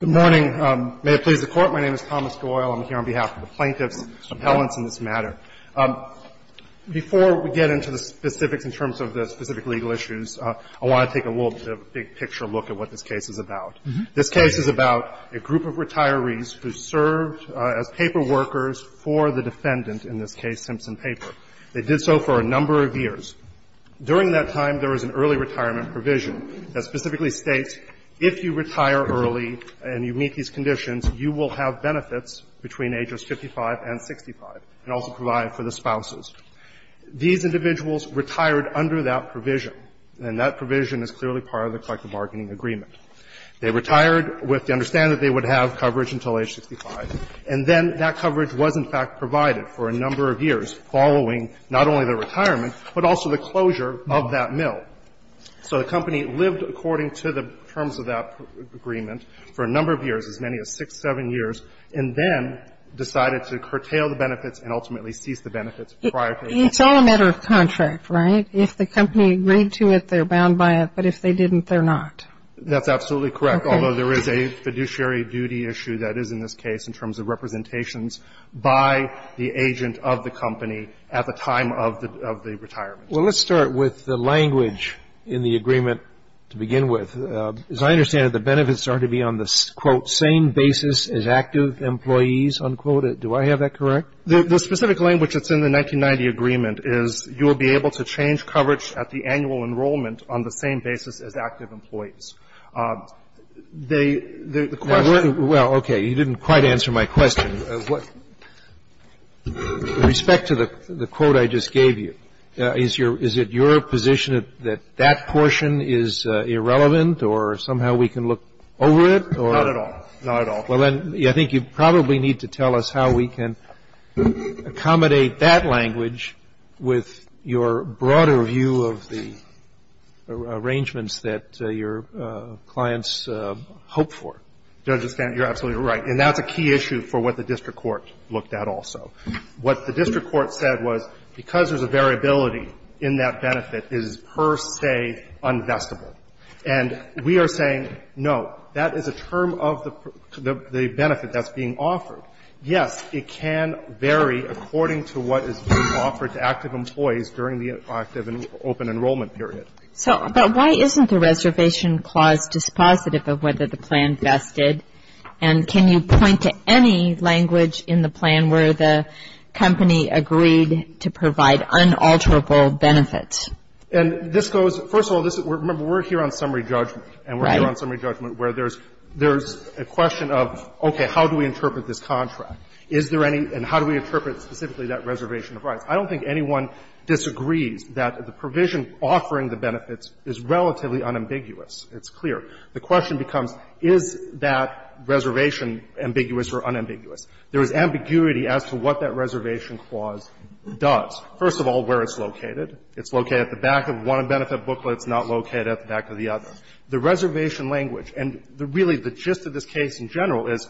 Good morning. May it please the Court, my name is Thomas Doyle. I'm here on behalf of the plaintiffs, the appellants in this matter. Before we get into the specifics in terms of the specific legal issues, I want to take a little bit of a big-picture look at what this case is about. This case is about a group of retirees who served as paperworkers for the defendant, in this case, Simpson Paper. They did so for a number of years. During that time, there was an early retirement provision that specifically states, if you retire early and you meet these conditions, you will have benefits between ages 55 and 65, and also provide for the spouses. These individuals retired under that provision, and that provision is clearly part of the collective bargaining agreement. They retired with the understanding that they would have coverage until age 65, and then that coverage was, in fact, provided for a number of years following not only their retirement, but also the closure of that mill. So the company lived according to the terms of that agreement for a number of years, as many as six, seven years, and then decided to curtail the benefits and ultimately cease the benefits prior to retirement. It's all a matter of contract, right? If the company agreed to it, they're bound by it. But if they didn't, they're not. That's absolutely correct, although there is a fiduciary duty issue that is in this case in terms of representations by the agent of the company at the time of the retirement. Well, let's start with the language in the agreement to begin with. As I understand it, the benefits are to be on the, quote, same basis as active employees, unquote. Do I have that correct? The specific language that's in the 1990 agreement is you will be able to change coverage at the annual enrollment on the same basis as active employees. The question of what the question of what the question of what the question Is it your position that portion is irrelevant or somehow we can look over it or? Not at all. Not at all. Well, then, I think you probably need to tell us how we can accommodate that language with your broader view of the arrangements that your clients hope for. Judge, you're absolutely right. And that's a key issue for what the district court looked at also. What the district court said was because there's a variability in that benefit is per se unvestable. And we are saying, no, that is a term of the benefit that's being offered. Yes, it can vary according to what is being offered to active employees during the active and open enrollment period. So, but why isn't the reservation clause dispositive of whether the plan vested? And can you point to any language in the plan where the company agreed to provide unalterable benefits? And this goes, first of all, remember, we're here on summary judgment. And we're here on summary judgment where there's a question of, okay, how do we interpret this contract? Is there any, and how do we interpret specifically that reservation of rights? I don't think anyone disagrees that the provision offering the benefits is relatively unambiguous. It's clear. The question becomes, is that reservation ambiguous or unambiguous? There is ambiguity as to what that reservation clause does. First of all, where it's located. It's located at the back of one of the benefit booklets, not located at the back of the other. The reservation language, and really the gist of this case in general is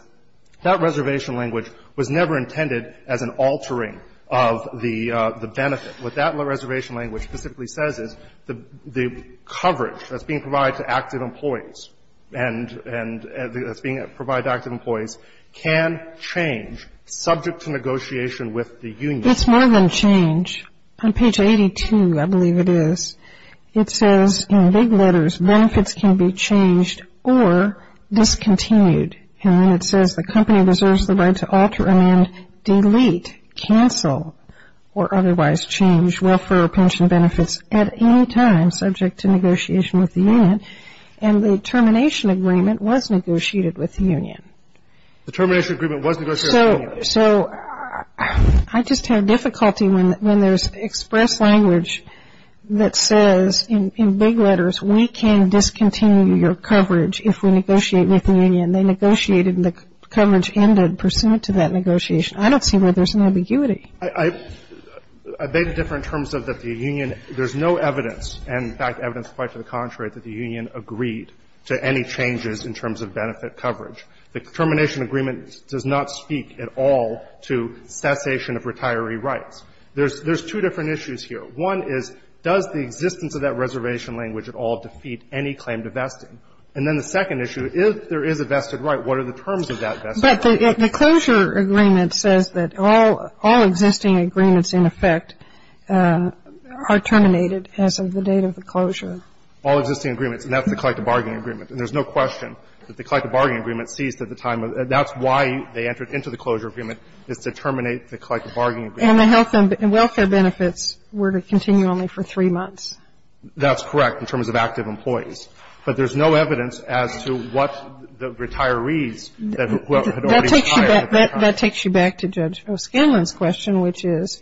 that reservation language was never intended as an altering of the benefit. What that reservation language specifically says is the coverage that's being provided to active employees and that's being provided to active employees can change subject to negotiation with the union. It's more than change. On page 82, I believe it is, it says in big letters, benefits can be changed or discontinued. And then it says the company deserves the right to alter and delete, cancel, or otherwise change welfare or pension benefits at any time subject to negotiation with the union. And the termination agreement was negotiated with the union. The termination agreement was negotiated with the union. So I just have difficulty when there's express language that says in big letters, we can discontinue your coverage if we negotiate with the union. They negotiated and the coverage ended pursuant to that negotiation. I don't see where there's an ambiguity. I beg to differ in terms of that the union, there's no evidence, and in fact, evidence quite to the contrary, that the union agreed to any changes in terms of benefit coverage. The termination agreement does not speak at all to cessation of retiree rights. There's two different issues here. One is, does the existence of that reservation language at all defeat any claim to vesting? And then the second issue, if there is a vested right, what are the terms of that vested right? But the closure agreement says that all existing agreements, in effect, are terminated as of the date of the closure. All existing agreements, and that's the collective bargaining agreement. And there's no question that the collective bargaining agreement ceased at the time of the, that's why they entered into the closure agreement, is to terminate the collective bargaining agreement. And the health and welfare benefits were to continue only for three months. That's correct in terms of active employees. But there's no evidence as to what the retirees that had already retired at the time. That takes you back to Judge O'Skinlan's question, which is,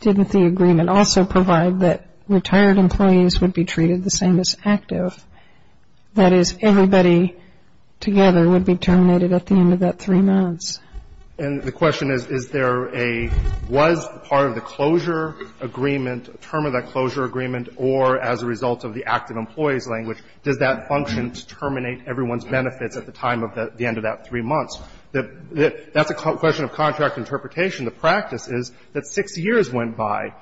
didn't the agreement also provide that retired employees would be treated the same as active? That is, everybody together would be terminated at the end of that three months. And the question is, is there a, was part of the closure agreement, term of that does that function to terminate everyone's benefits at the time of the end of that three months? That's a question of contract interpretation. The practice is that six years went by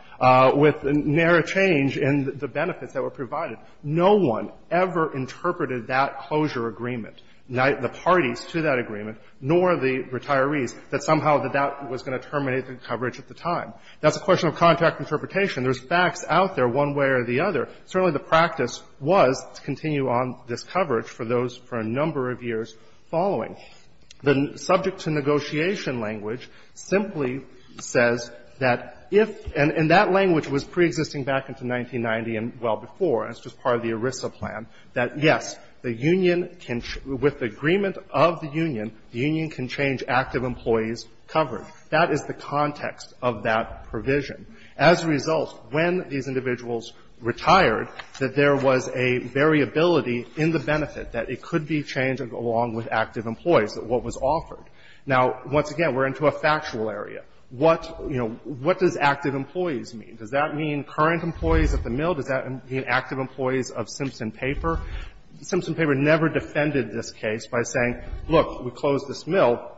with narrow change in the benefits that were provided. No one ever interpreted that closure agreement, the parties to that agreement, nor the retirees, that somehow that was going to terminate the coverage at the time. That's a question of contract interpretation. There's facts out there one way or the other. Certainly, the practice was to continue on this coverage for those for a number of years following. The subject to negotiation language simply says that if, and that language was preexisting back into 1990 and well before, and it's just part of the ERISA plan, that, yes, the union can, with the agreement of the union, the union can change active employees' coverage. That is the context of that provision. As a result, when these individuals retired, that there was a variability in the benefit that it could be changed along with active employees, what was offered. Now, once again, we're into a factual area. What, you know, what does active employees mean? Does that mean current employees at the mill? Does that mean active employees of Simpson Paper? Simpson Paper never defended this case by saying, look, we closed this mill,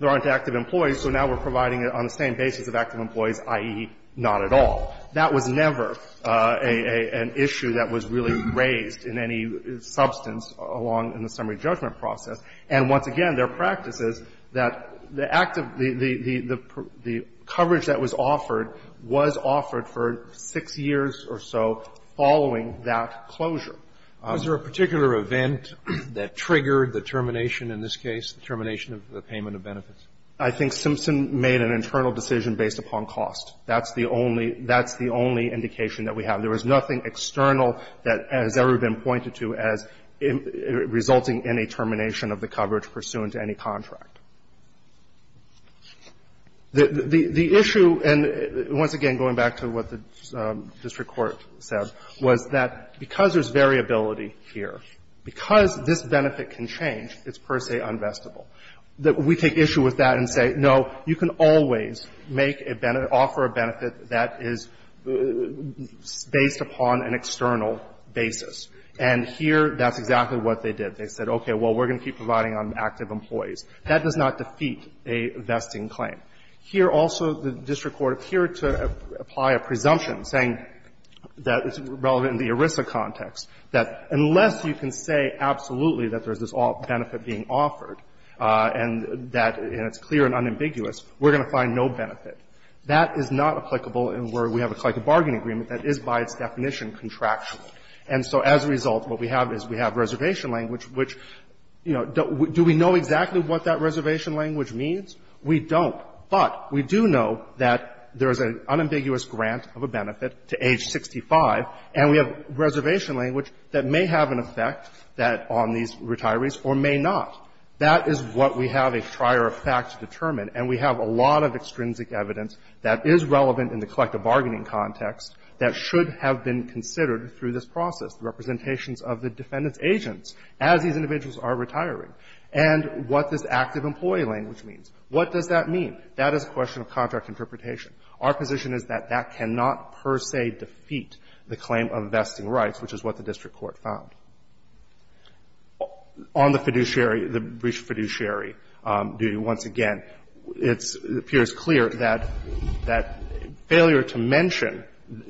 there aren't active employees, so now we're providing it on the same basis of active employees, i.e., not at all. That was never an issue that was really raised in any substance along in the summary judgment process. And once again, their practice is that the active, the coverage that was offered was offered for six years or so following that closure. Roberts, Was there a particular event that triggered the termination in this case, the termination of the payment of benefits? I think Simpson made an internal decision based upon cost. That's the only indication that we have. There was nothing external that has ever been pointed to as resulting in a termination of the coverage pursuant to any contract. The issue, and once again, going back to what the district court said, was that because there's variability here, because this benefit can change, it's per se unvestable. We take issue with that and say, no, you can always make a benefit, offer a benefit that is based upon an external basis. And here, that's exactly what they did. They said, okay, well, we're going to keep providing on active employees. That does not defeat a vesting claim. Here also, the district court appeared to apply a presumption saying that it's relevant in the ERISA context, that unless you can say absolutely that there's this benefit being offered and that it's clear and unambiguous, we're going to find no benefit. That is not applicable in where we have a collective bargaining agreement that is by its definition contractual. And so as a result, what we have is we have reservation language, which, you know, do we know exactly what that reservation language means? We don't. But we do know that there is an unambiguous grant of a benefit to age 65, and we have That is what we have a trier of facts to determine, and we have a lot of extrinsic evidence that is relevant in the collective bargaining context that should have been considered through this process, the representations of the defendant's agents as these individuals are retiring, and what this active employee language means. What does that mean? That is a question of contract interpretation. Our position is that that cannot per se defeat the claim of vesting rights, which is what the district court found. On the fiduciary, the brief fiduciary duty, once again, it appears clear that failure to mention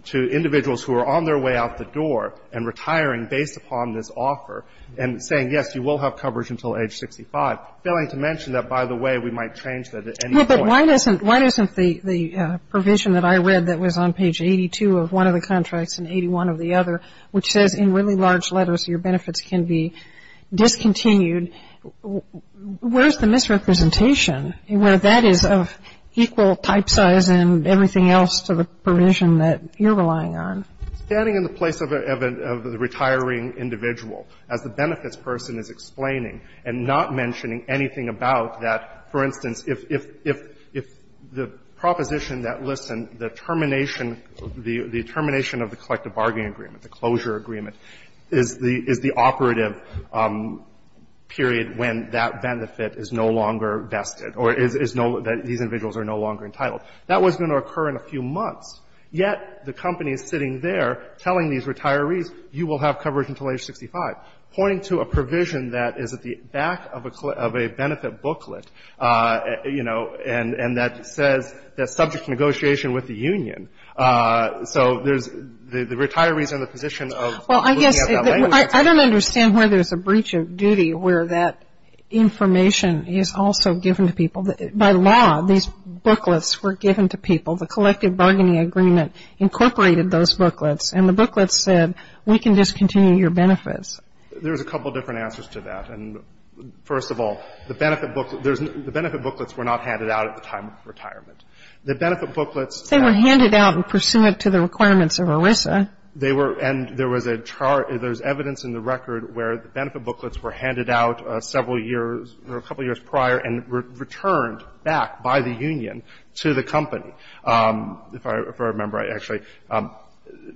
to individuals who are on their way out the door and retiring based upon this offer, and saying, yes, you will have coverage until age 65, failing to mention that, by the way, we might change that at any point. No, but why doesn't the provision that I read that was on page 82 of one of the contracts and 81 of the other, which says in really large letters, your benefits can be discontinued, where is the misrepresentation where that is of equal type size and everything else to the provision that you're relying on? Standing in the place of a retiring individual, as the benefits person is explaining and not mentioning anything about that, for instance, if the proposition that, listen, the termination, the termination of the collective bargaining agreement, the closure agreement, is the operative period when that benefit is no longer vested or is no, these individuals are no longer entitled, that was going to occur in a few months. Yet, the company is sitting there telling these retirees, you will have coverage until age 65, pointing to a provision that is at the back of a benefit booklet, you know, and that says that subject to negotiation with the union. So, there's, the retirees are in the position of looking at that language. I don't understand where there's a breach of duty where that information is also given to people. By law, these booklets were given to people. The collective bargaining agreement incorporated those booklets, and the booklets said, we can discontinue your benefits. There's a couple different answers to that. And, first of all, the benefit booklet, there's, the benefit booklets were not handed out at the time of retirement. The benefit booklets. They were handed out pursuant to the requirements of ERISA. They were, and there was a chart, there's evidence in the record where the benefit booklets were handed out several years, or a couple years prior, and returned back by the union to the company. If I remember actually,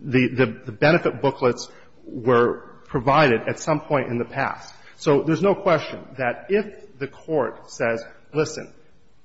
the benefit booklets were provided at some point in the past. So, there's no question that if the Court says, listen,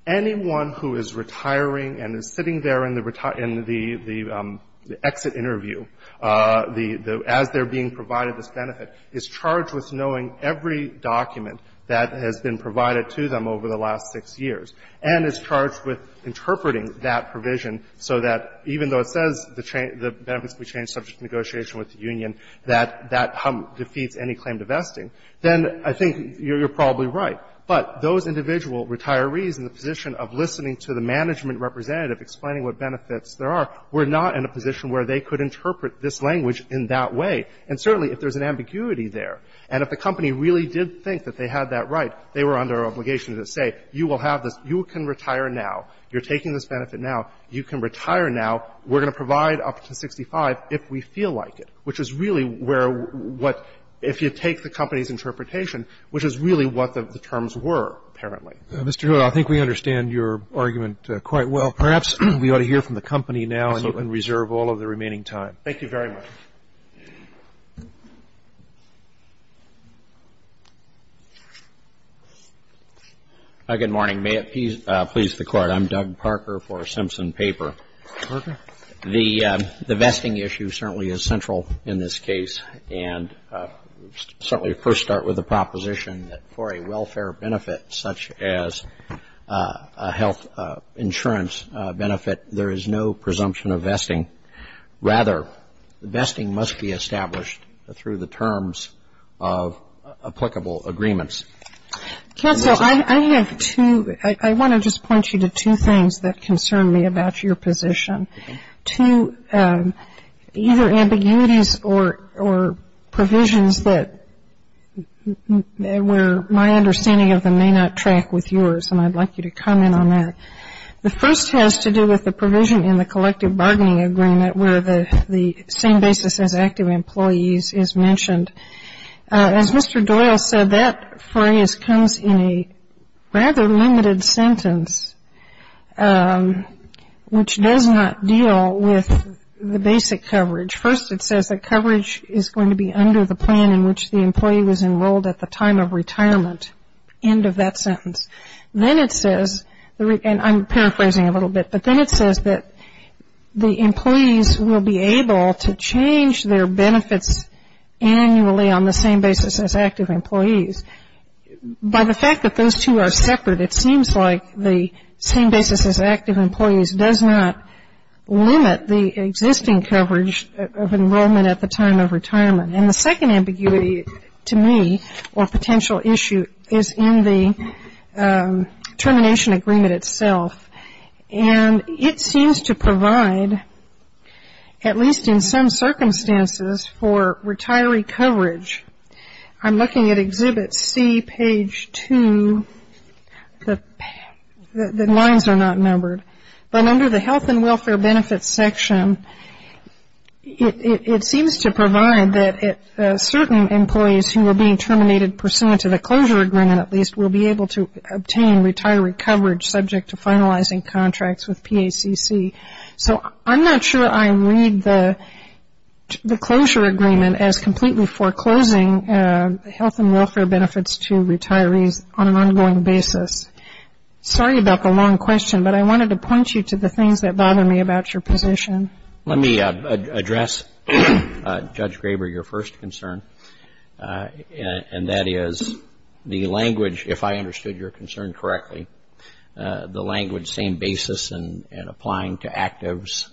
anyone who is retiring and is sitting there in the exit interview, as they're being provided this benefit, is charged with knowing every document that has been provided to them over the last six years, and is charged with interpreting that provision so that even though it says the benefits will be changed subject to negotiation with the union, that that defeats any claim to vesting, then I think you're probably right. But those individual retirees in the position of listening to the management representative explaining what benefits there are, were not in a position where they could interpret this language in that way. And, certainly, if there's an ambiguity there, and if the company really did think that they had that right, they were under obligation to say, you will have this, you can retire now, you're taking this benefit now, you can retire now, we're going to provide up to 65 if we feel like it, which is really where what if you take the company's interpretation, which is really what the terms were, apparently. Mr. Hewitt, I think we understand your argument quite well. Perhaps we ought to hear from the company now, and you can reserve all of the remaining time. Thank you very much. Good morning. May it please the Court. I'm Doug Parker for Simpson Paper. Parker. The vesting issue certainly is central in this case, and certainly first start with the proposition that for a welfare benefit, such as a health insurance benefit, there is no presumption of vesting. Rather, the vesting must be established through the terms of applicable agreements. Counsel, I have two, I want to just point you to two things that concern me about your position, two, either ambiguities or provisions that where my understanding of them may not track with yours, and I'd like you to comment on that. The first has to do with the provision in the collective bargaining agreement where the same basis as active employees is mentioned. As Mr. Doyle said, that phrase comes in a rather limited sentence, which does not deal with the basic coverage. First, it says that coverage is going to be under the plan in which the employee was enrolled at the time of retirement, end of that sentence. Then it says, and I'm paraphrasing a little bit, but then it says that the employees will be able to change their benefits annually on the same basis as active employees. By the fact that those two are separate, it seems like the same basis as active employees does not limit the existing coverage of enrollment at the time of retirement. And the second ambiguity to me, or potential issue, is in the termination agreement itself, and it seems to provide, at least in some circumstances, for retiree coverage. I'm looking at Exhibit C, page 2, the lines are not numbered, but under the health and welfare benefits section, it seems to provide that certain employees who are being terminated pursuant to the closure agreement, at least, will be able to obtain retiree coverage subject to finalizing contracts with PACC. So I'm not sure I read the closure agreement as completely foreclosing health and welfare benefits to retirees on an ongoing basis. Sorry about the long question, but I wanted to point you to the things that bother me about your position. Let me address, Judge Graber, your first concern, and that is the language, if I understood your concern correctly, the language, same basis and applying to actives,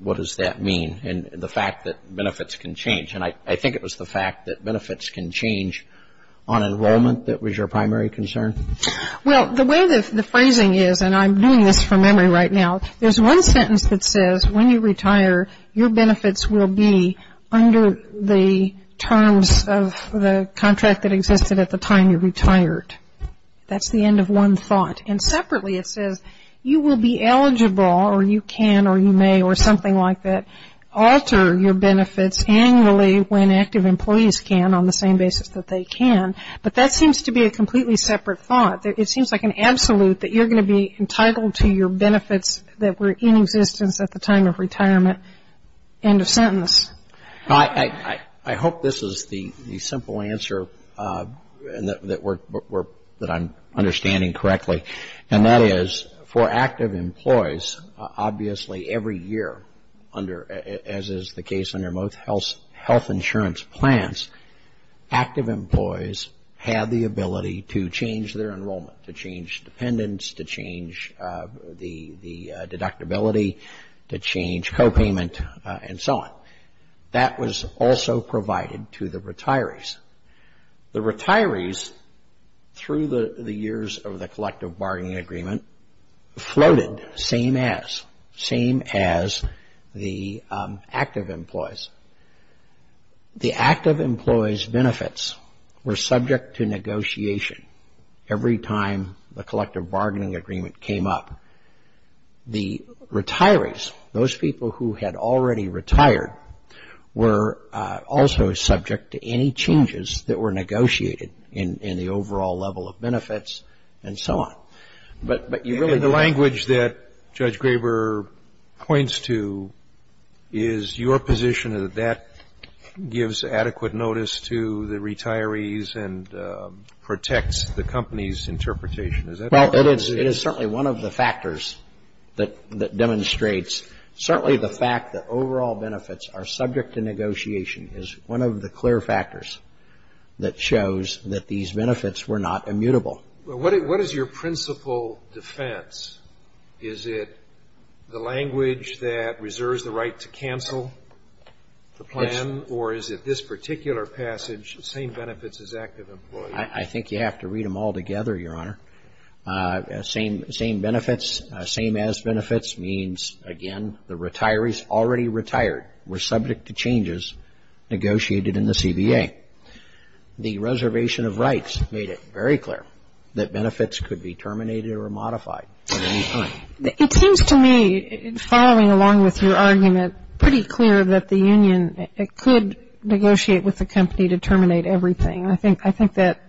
what does that mean? And the fact that benefits can change, and I think it was the fact that benefits can change on enrollment that was your primary concern? Well, the way the phrasing is, and I'm doing this from memory right now, there's one sentence that says when you retire, your benefits will be under the terms of the contract that existed at the time you retired. That's the end of one thought, and separately, it says you will be eligible, or you can or you may or something like that, alter your benefits annually when active employees can on the same basis that they can, but that seems to be a completely separate thought. It seems like an absolute that you're going to be entitled to your benefits that were in existence at the time of retirement, end of sentence. I hope this is the simple answer that I'm understanding correctly, and that is for active employees, obviously every year under, as is the case under most health insurance plans, active employees have the ability to change their enrollment, to change dependents, to change liability, to change copayment, and so on. That was also provided to the retirees. The retirees, through the years of the collective bargaining agreement, floated same as, same as the active employees. The active employees' benefits were subject to negotiation every time the collective bargaining agreement came up. The retirees, those people who had already retired, were also subject to any changes that were negotiated in the overall level of benefits, and so on. But you really don't need to. And the language that Judge Graber points to is your position that that gives adequate notice to the retirees and protects the company's interpretation. Is that correct? Well, it is certainly one of the factors that demonstrates, certainly the fact that overall benefits are subject to negotiation is one of the clear factors that shows that these benefits were not immutable. What is your principal defense? Is it the language that reserves the right to cancel the plan, or is it this particular passage, same benefits as active employees? I think you have to read them all together, Your Honor. Same benefits, same as benefits means, again, the retirees already retired were subject to changes negotiated in the CBA. The reservation of rights made it very clear that benefits could be terminated or modified at any time. It seems to me, following along with your argument, pretty clear that the union could negotiate with the company to terminate everything. I think that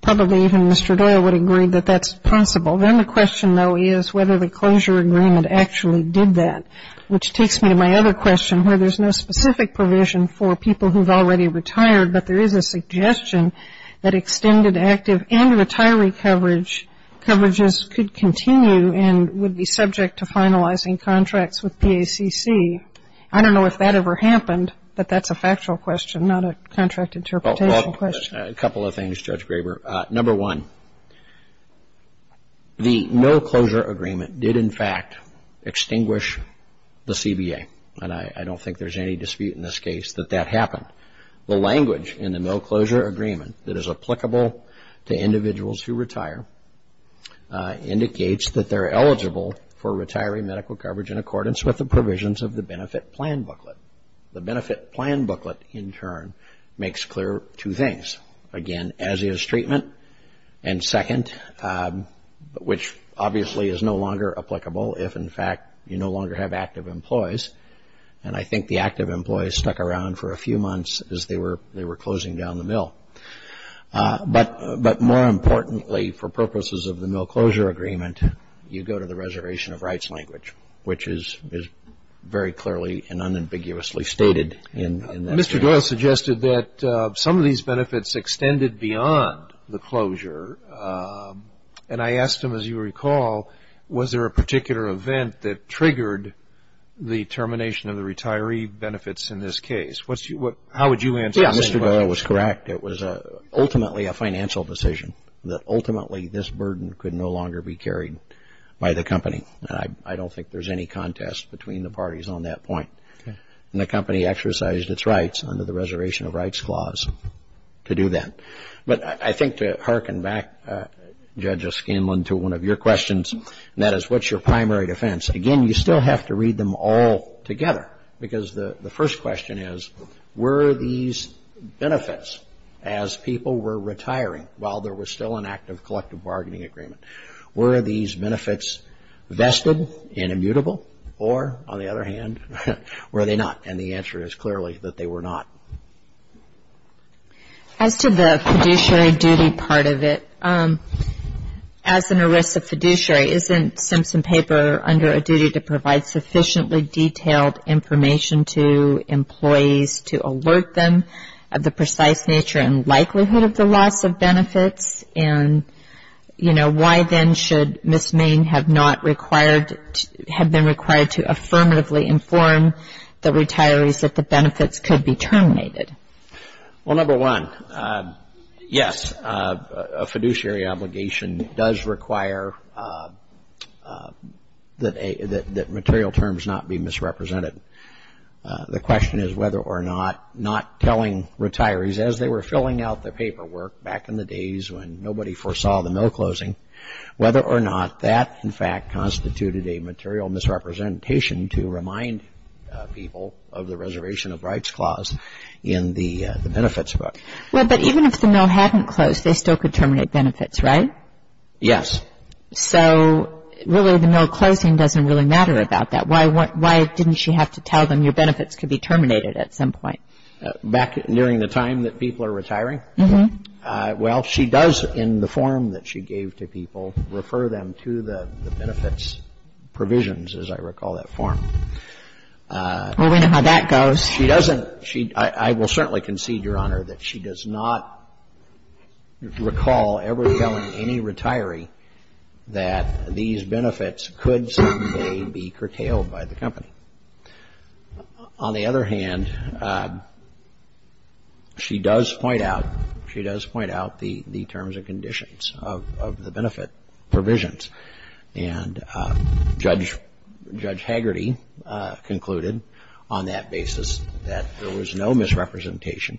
probably even Mr. Doyle would agree that that's possible. Then the question, though, is whether the closure agreement actually did that, which takes me to my other question where there's no specific provision for people who've already retired, but there is a suggestion that extended active and retiree coverage, coverages could continue and would be subject to finalizing contracts with PACC. I don't know if that ever happened, but that's a factual question, not a contract interpretation question. A couple of things, Judge Graber. Number one, the no closure agreement did, in fact, extinguish the CBA, and I don't think there's any dispute in this case that that happened. The language in the no closure agreement that is applicable to individuals who retire indicates that they're eligible for retiree medical coverage in accordance with the provisions of the benefit plan booklet. The benefit plan booklet, in turn, makes clear two things. Again, as is treatment, and second, which obviously is no longer applicable if, in fact, you no longer have active employees, and I think the active employees stuck around for a few months as they were closing down the mill. But more importantly, for purposes of the no closure agreement, you go to the reservation of rights language, which is very clearly and unambiguously stated in that. Mr. Doyle suggested that some of these benefits extended beyond the closure, and I asked him, as you recall, was there a particular event that triggered the termination of the retiree benefits in this case? How would you answer that? Yeah, Mr. Doyle was correct. It was ultimately a financial decision, that ultimately this burden could no longer be I don't think there's any contest between the parties on that point, and the company exercised its rights under the reservation of rights clause to do that. But I think to hearken back, Judge O'Scanlan, to one of your questions, and that is, what's your primary defense? Again, you still have to read them all together, because the first question is, were these benefits as people were retiring while there was still an active collective bargaining agreement? Were these benefits vested and immutable, or on the other hand, were they not? And the answer is clearly that they were not. As to the fiduciary duty part of it, as an arrest of fiduciary, isn't Simpson Paper under a duty to provide sufficiently detailed information to employees to alert them of the precise nature and likelihood of the loss of benefits, and why then should Ms. Main have been required to affirmatively inform the retirees that the benefits could be terminated? Well, number one, yes, a fiduciary obligation does require that material terms not be misrepresented. The question is whether or not not telling retirees, as they were filling out the paperwork back in the days when nobody foresaw the mill closing, whether or not that, in fact, constituted a material misrepresentation to remind people of the reservation of rights clause in the benefits book. Well, but even if the mill hadn't closed, they still could terminate benefits, right? Yes. So really, the mill closing doesn't really matter about that. Why didn't she have to tell them your benefits could be terminated at some point? Back during the time that people are retiring? Mm-hmm. Well, she does, in the form that she gave to people, refer them to the benefits provisions, as I recall that form. Well, we know how that goes. She doesn't. I will certainly concede, Your Honor, that she does not recall ever telling any retiree that these benefits could someday be curtailed by the company. On the other hand, she does point out, she does point out the terms and conditions of the benefit provisions. And Judge Hagerty concluded on that basis that there was no misrepresentation.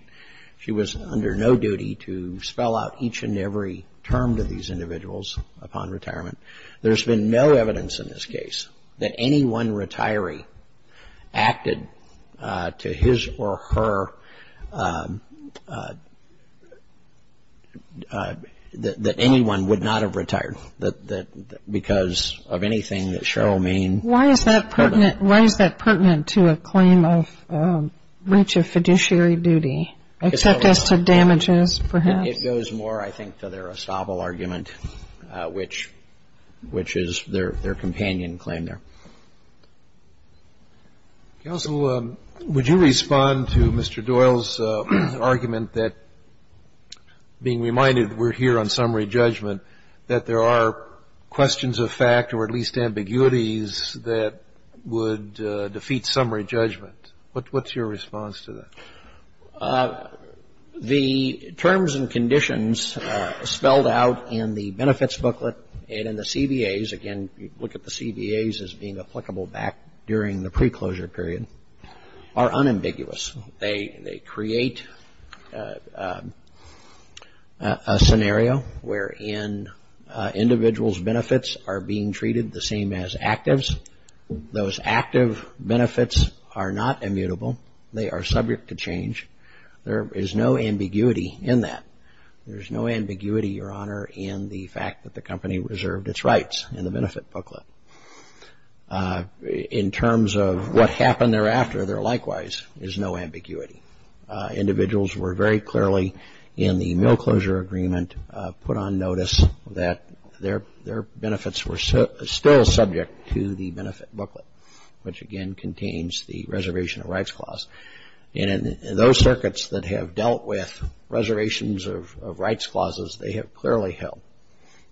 She was under no duty to spell out each and every term to these individuals upon retirement. There's been no evidence in this case that any one retiree acted to his or her, that anyone would not have retired because of anything that Cheryl mean. Why is that pertinent to a claim of breach of fiduciary duty, except as to damages, perhaps? It goes more, I think, to their estable argument, which is their companion claim there. Counsel, would you respond to Mr. Doyle's argument that, being reminded we're here on summary judgment, that there are questions of fact, or at least ambiguities, that would defeat summary judgment? What's your response to that? The terms and conditions spelled out in the benefits booklet and in the CBAs, again, you look at the CBAs as being applicable back during the pre-closure period, are unambiguous. They create a scenario where an individual's benefits are being treated the same as actives. Those active benefits are not immutable. They are subject to change. There is no ambiguity in that. There's no ambiguity, Your Honor, in the fact that the company reserved its rights in the benefit booklet. In terms of what happened thereafter, there likewise is no ambiguity. Individuals were very clearly in the mill closure agreement put on notice that their benefits were still subject to the benefit booklet, which again contains the reservation of rights clause. And those circuits that have dealt with reservations of rights clauses, they have clearly held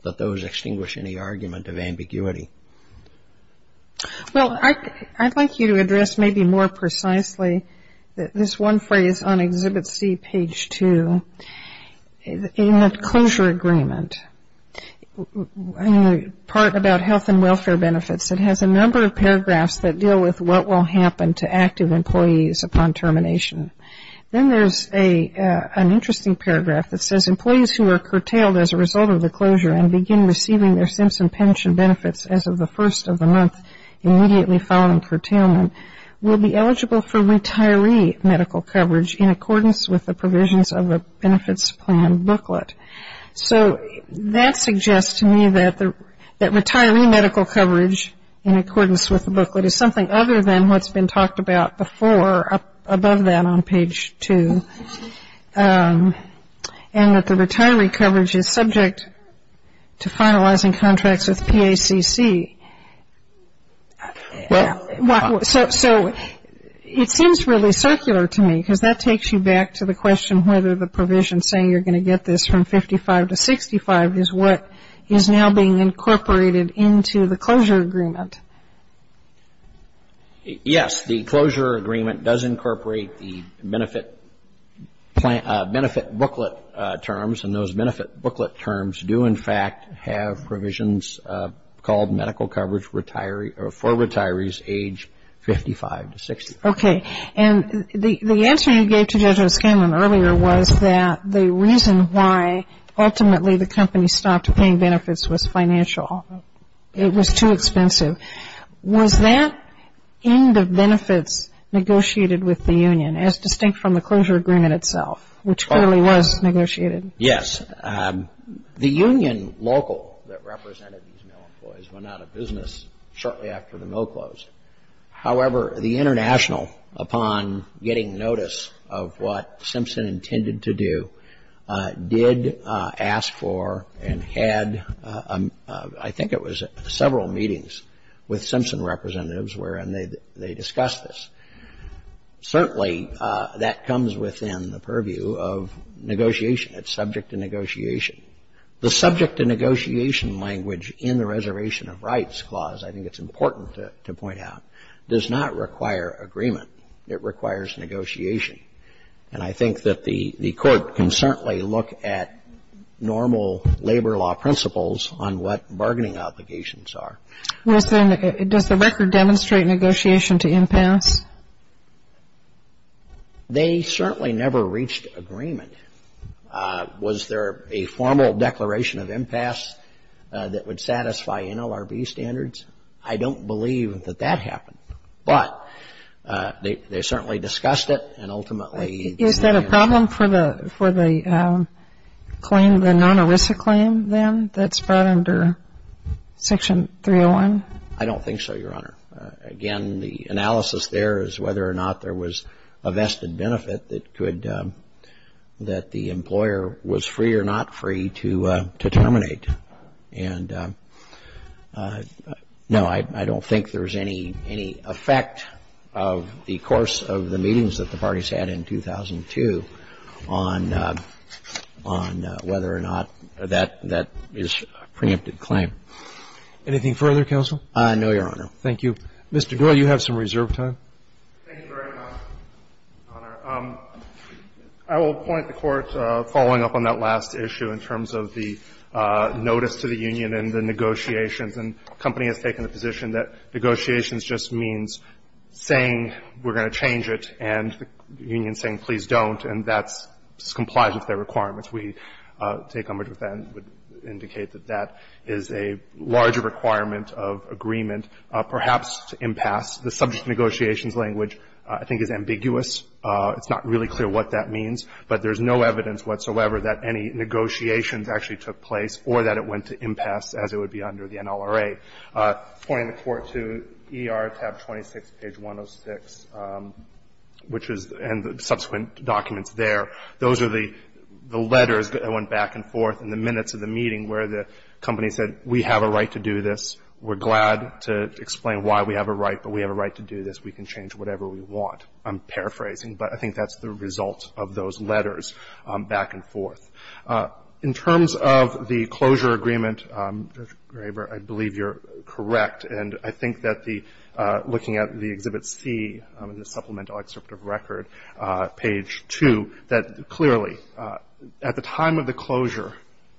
that those extinguish any argument of ambiguity. Well, I'd like you to address maybe more precisely this one phrase on Exhibit C, page 2, in that closure agreement. In the part about health and welfare benefits, it has a number of paragraphs that deal with what will happen to active employees upon termination. Then there's an interesting paragraph that says employees who are curtailed as a result of the closure and begin receiving their Simpson Pension benefits as of the first of the month immediately following curtailment will be eligible for retiree medical coverage in accordance with the provisions of the benefits plan booklet. So that suggests to me that retiree medical coverage in accordance with the booklet is something other than what's been talked about before above that on page 2. And that the retiree coverage is subject to finalizing contracts with PACC. So it seems really circular to me because that takes you back to the question whether the provision saying you're going to get this from 55 to 65 is what is now being incorporated into the closure agreement. Yes. The closure agreement does incorporate the benefit booklet terms. And those benefit booklet terms do, in fact, have provisions called medical coverage for retirees age 55 to 65. Okay. And the answer you gave to Judge O'Scanlan earlier was that the reason why ultimately the company stopped paying benefits was financial. It was too expensive. Was that end of benefits negotiated with the union as distinct from the closure agreement itself, which clearly was negotiated? Yes. The union local that represented these male employees went out of business shortly after the mill closed. However, the international, upon getting notice of what Simpson intended to do, did ask for and had I think it was several meetings with Simpson representatives wherein they discussed this. Certainly, that comes within the purview of negotiation. It's subject to negotiation. The subject to negotiation language in the Reservation of Rights Clause, I think it's important to point out, does not require agreement. It requires negotiation. And I think that the court can certainly look at normal labor law principles on what bargaining obligations are. Does the record demonstrate negotiation to impasse? They certainly never reached agreement. Was there a formal declaration of impasse that would satisfy NLRB standards? I don't believe that that happened. But they certainly discussed it and ultimately Is that a problem for the claim, the non-ERISA claim then that's brought under Section 301? I don't think so, Your Honor. Again, the analysis there is whether or not there was a vested benefit that could that the employer was free or not free to terminate. And no, I don't think there's any effect of the course of the meetings that the parties had in 2002 on whether or not that is a preempted claim. Anything further, Counsel? No, Your Honor. Thank you. Mr. Doyle, you have some reserve time. Thank you very much, Your Honor. I will point the Court following up on that last issue in terms of the notice to the union and the negotiations. And the company has taken the position that negotiations just means saying we're going to change it and the union saying, please don't, and that complies with their requirements. We take umbrage with that and would indicate that that is a larger requirement of agreement, perhaps to impasse. The subject of negotiations language I think is ambiguous. It's not really clear what that means, but there's no evidence whatsoever that any negotiations actually took place or that it went to impasse as it would be under the NLRA. Pointing the Court to ER tab 26, page 106, which is the subsequent documents there, those are the letters that went back and forth in the minutes of the meeting where the company said, we have a right to do this. We're glad to explain why we have a right, but we have a right to do this. We can change whatever we want. I'm paraphrasing, but I think that's the result of those letters back and forth. In terms of the closure agreement, Judge Graber, I believe you're correct. And I think that looking at the Exhibit C, the supplemental excerpt of record, page 2, that clearly at the time of the closure,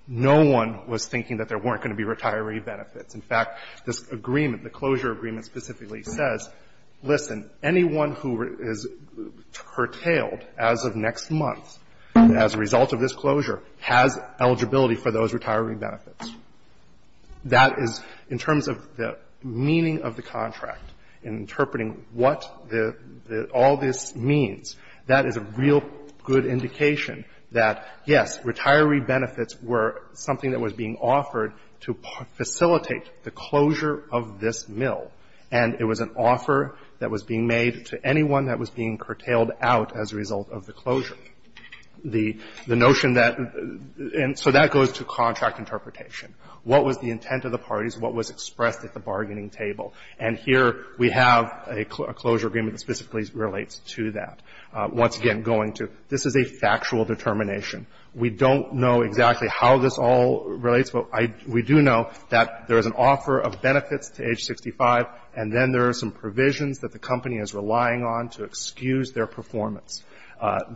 no one was thinking that there weren't going to be retiree benefits. In fact, this agreement, the closure agreement specifically says, listen, anyone who is curtailed as of next month as a result of this closure has eligibility for those retiree benefits. That is, in terms of the meaning of the contract, in interpreting what all this means that is a real good indication that, yes, retiree benefits were something that was being offered to facilitate the closure of this mill, and it was an offer that was being made to anyone that was being curtailed out as a result of the closure. The notion that the end so that goes to contract interpretation. What was the intent of the parties? What was expressed at the bargaining table? And here we have a closure agreement that specifically relates to that. Once again, going to, this is a factual determination. We don't know exactly how this all relates, but we do know that there is an offer of benefits to age 65, and then there are some provisions that the company is relying on to excuse their performance.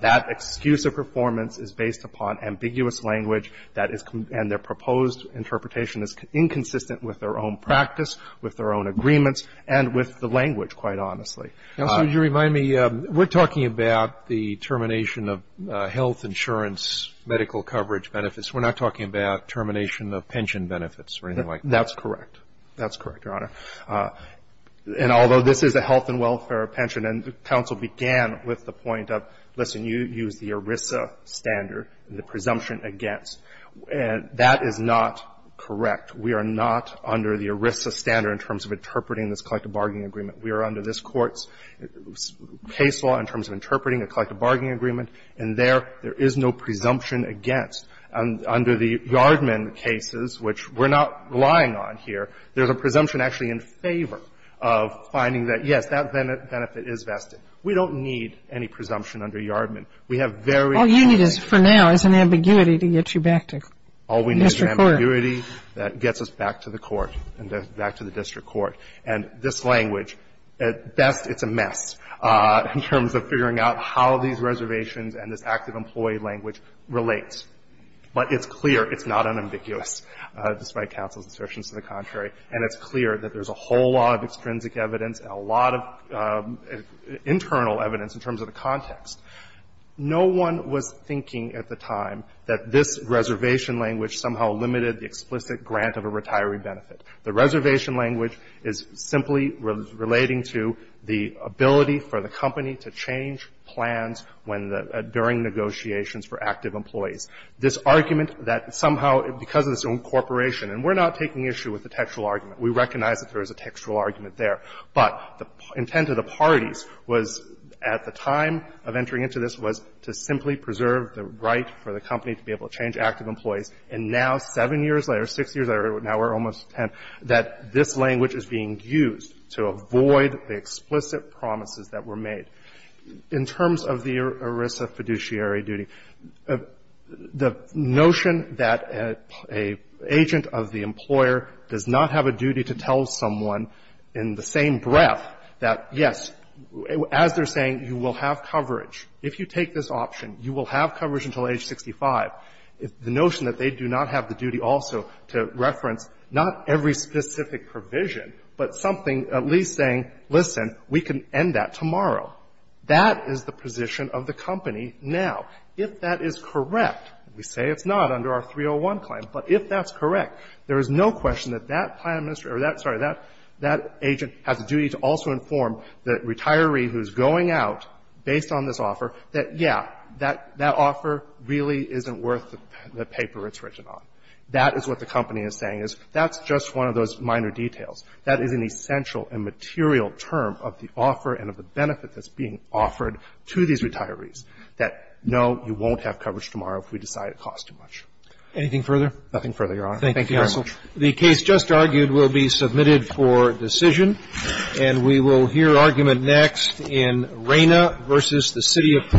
That excuse of performance is based upon ambiguous language that is, and their proposed interpretation is inconsistent with their own practice, with their own agreements, and with the language, quite honestly. Roberts, would you remind me, we're talking about the termination of health insurance, medical coverage benefits. We're not talking about termination of pension benefits or anything like that. That's correct. That's correct, Your Honor. And although this is a health and welfare pension, and counsel began with the point of, listen, you use the ERISA standard, the presumption against, and that is not correct. We are not under the ERISA standard in terms of interpreting this collective bargaining agreement. We are under this Court's case law in terms of interpreting a collective bargaining agreement, and there, there is no presumption against. Under the Yardman cases, which we're not relying on here, there's a presumption actually in favor of finding that, yes, that benefit is vested. We don't need any presumption under Yardman. We have very plaintiff. All you need is, for now, is an ambiguity to get you back to district court. All we need is an ambiguity that gets us back to the court, back to the district court. And this language, at best, it's a mess in terms of figuring out how these reservations and this active employee language relate. But it's clear it's not unambiguous, despite counsel's assertions to the contrary. And it's clear that there's a whole lot of extrinsic evidence and a lot of internal evidence in terms of the context. No one was thinking at the time that this reservation language somehow limited the explicit grant of a retiree benefit. The reservation language is simply relating to the ability for the company to change plans when the – during negotiations for active employees. This argument that somehow, because of this incorporation, and we're not taking issue with the textual argument. We recognize that there is a textual argument there. But the intent of the parties was, at the time of entering into this, was to simply preserve the right for the company to be able to change active employees. And now, seven years later, six years later, now we're almost at 10, that this language is being used to avoid the explicit promises that were made. In terms of the ERISA fiduciary duty, the notion that an agent of the employer does not have a duty to tell someone in the same breath that, yes, as they're saying, you will have coverage. If you take this option, you will have coverage until age 65. If the notion that they do not have the duty also to reference not every specific provision, but something at least saying, listen, we can end that tomorrow. That is the position of the company now. If that is correct, we say it's not under our 301 claim. But if that's correct, there is no question that that plan administrator or that, sorry, that agent has a duty to also inform the retiree who's going out based on this offer that, yeah, that offer really isn't worth the paper it's written on. That is what the company is saying, is that's just one of those minor details. That is an essential and material term of the offer and of the benefit that's being offered to these retirees, that, no, you won't have coverage tomorrow if we decide it costs too much. Anything further? Nothing further, Your Honor. Thank you, counsel. The case just argued will be submitted for decision. And we will hear argument next in Reyna v. the City of Portland.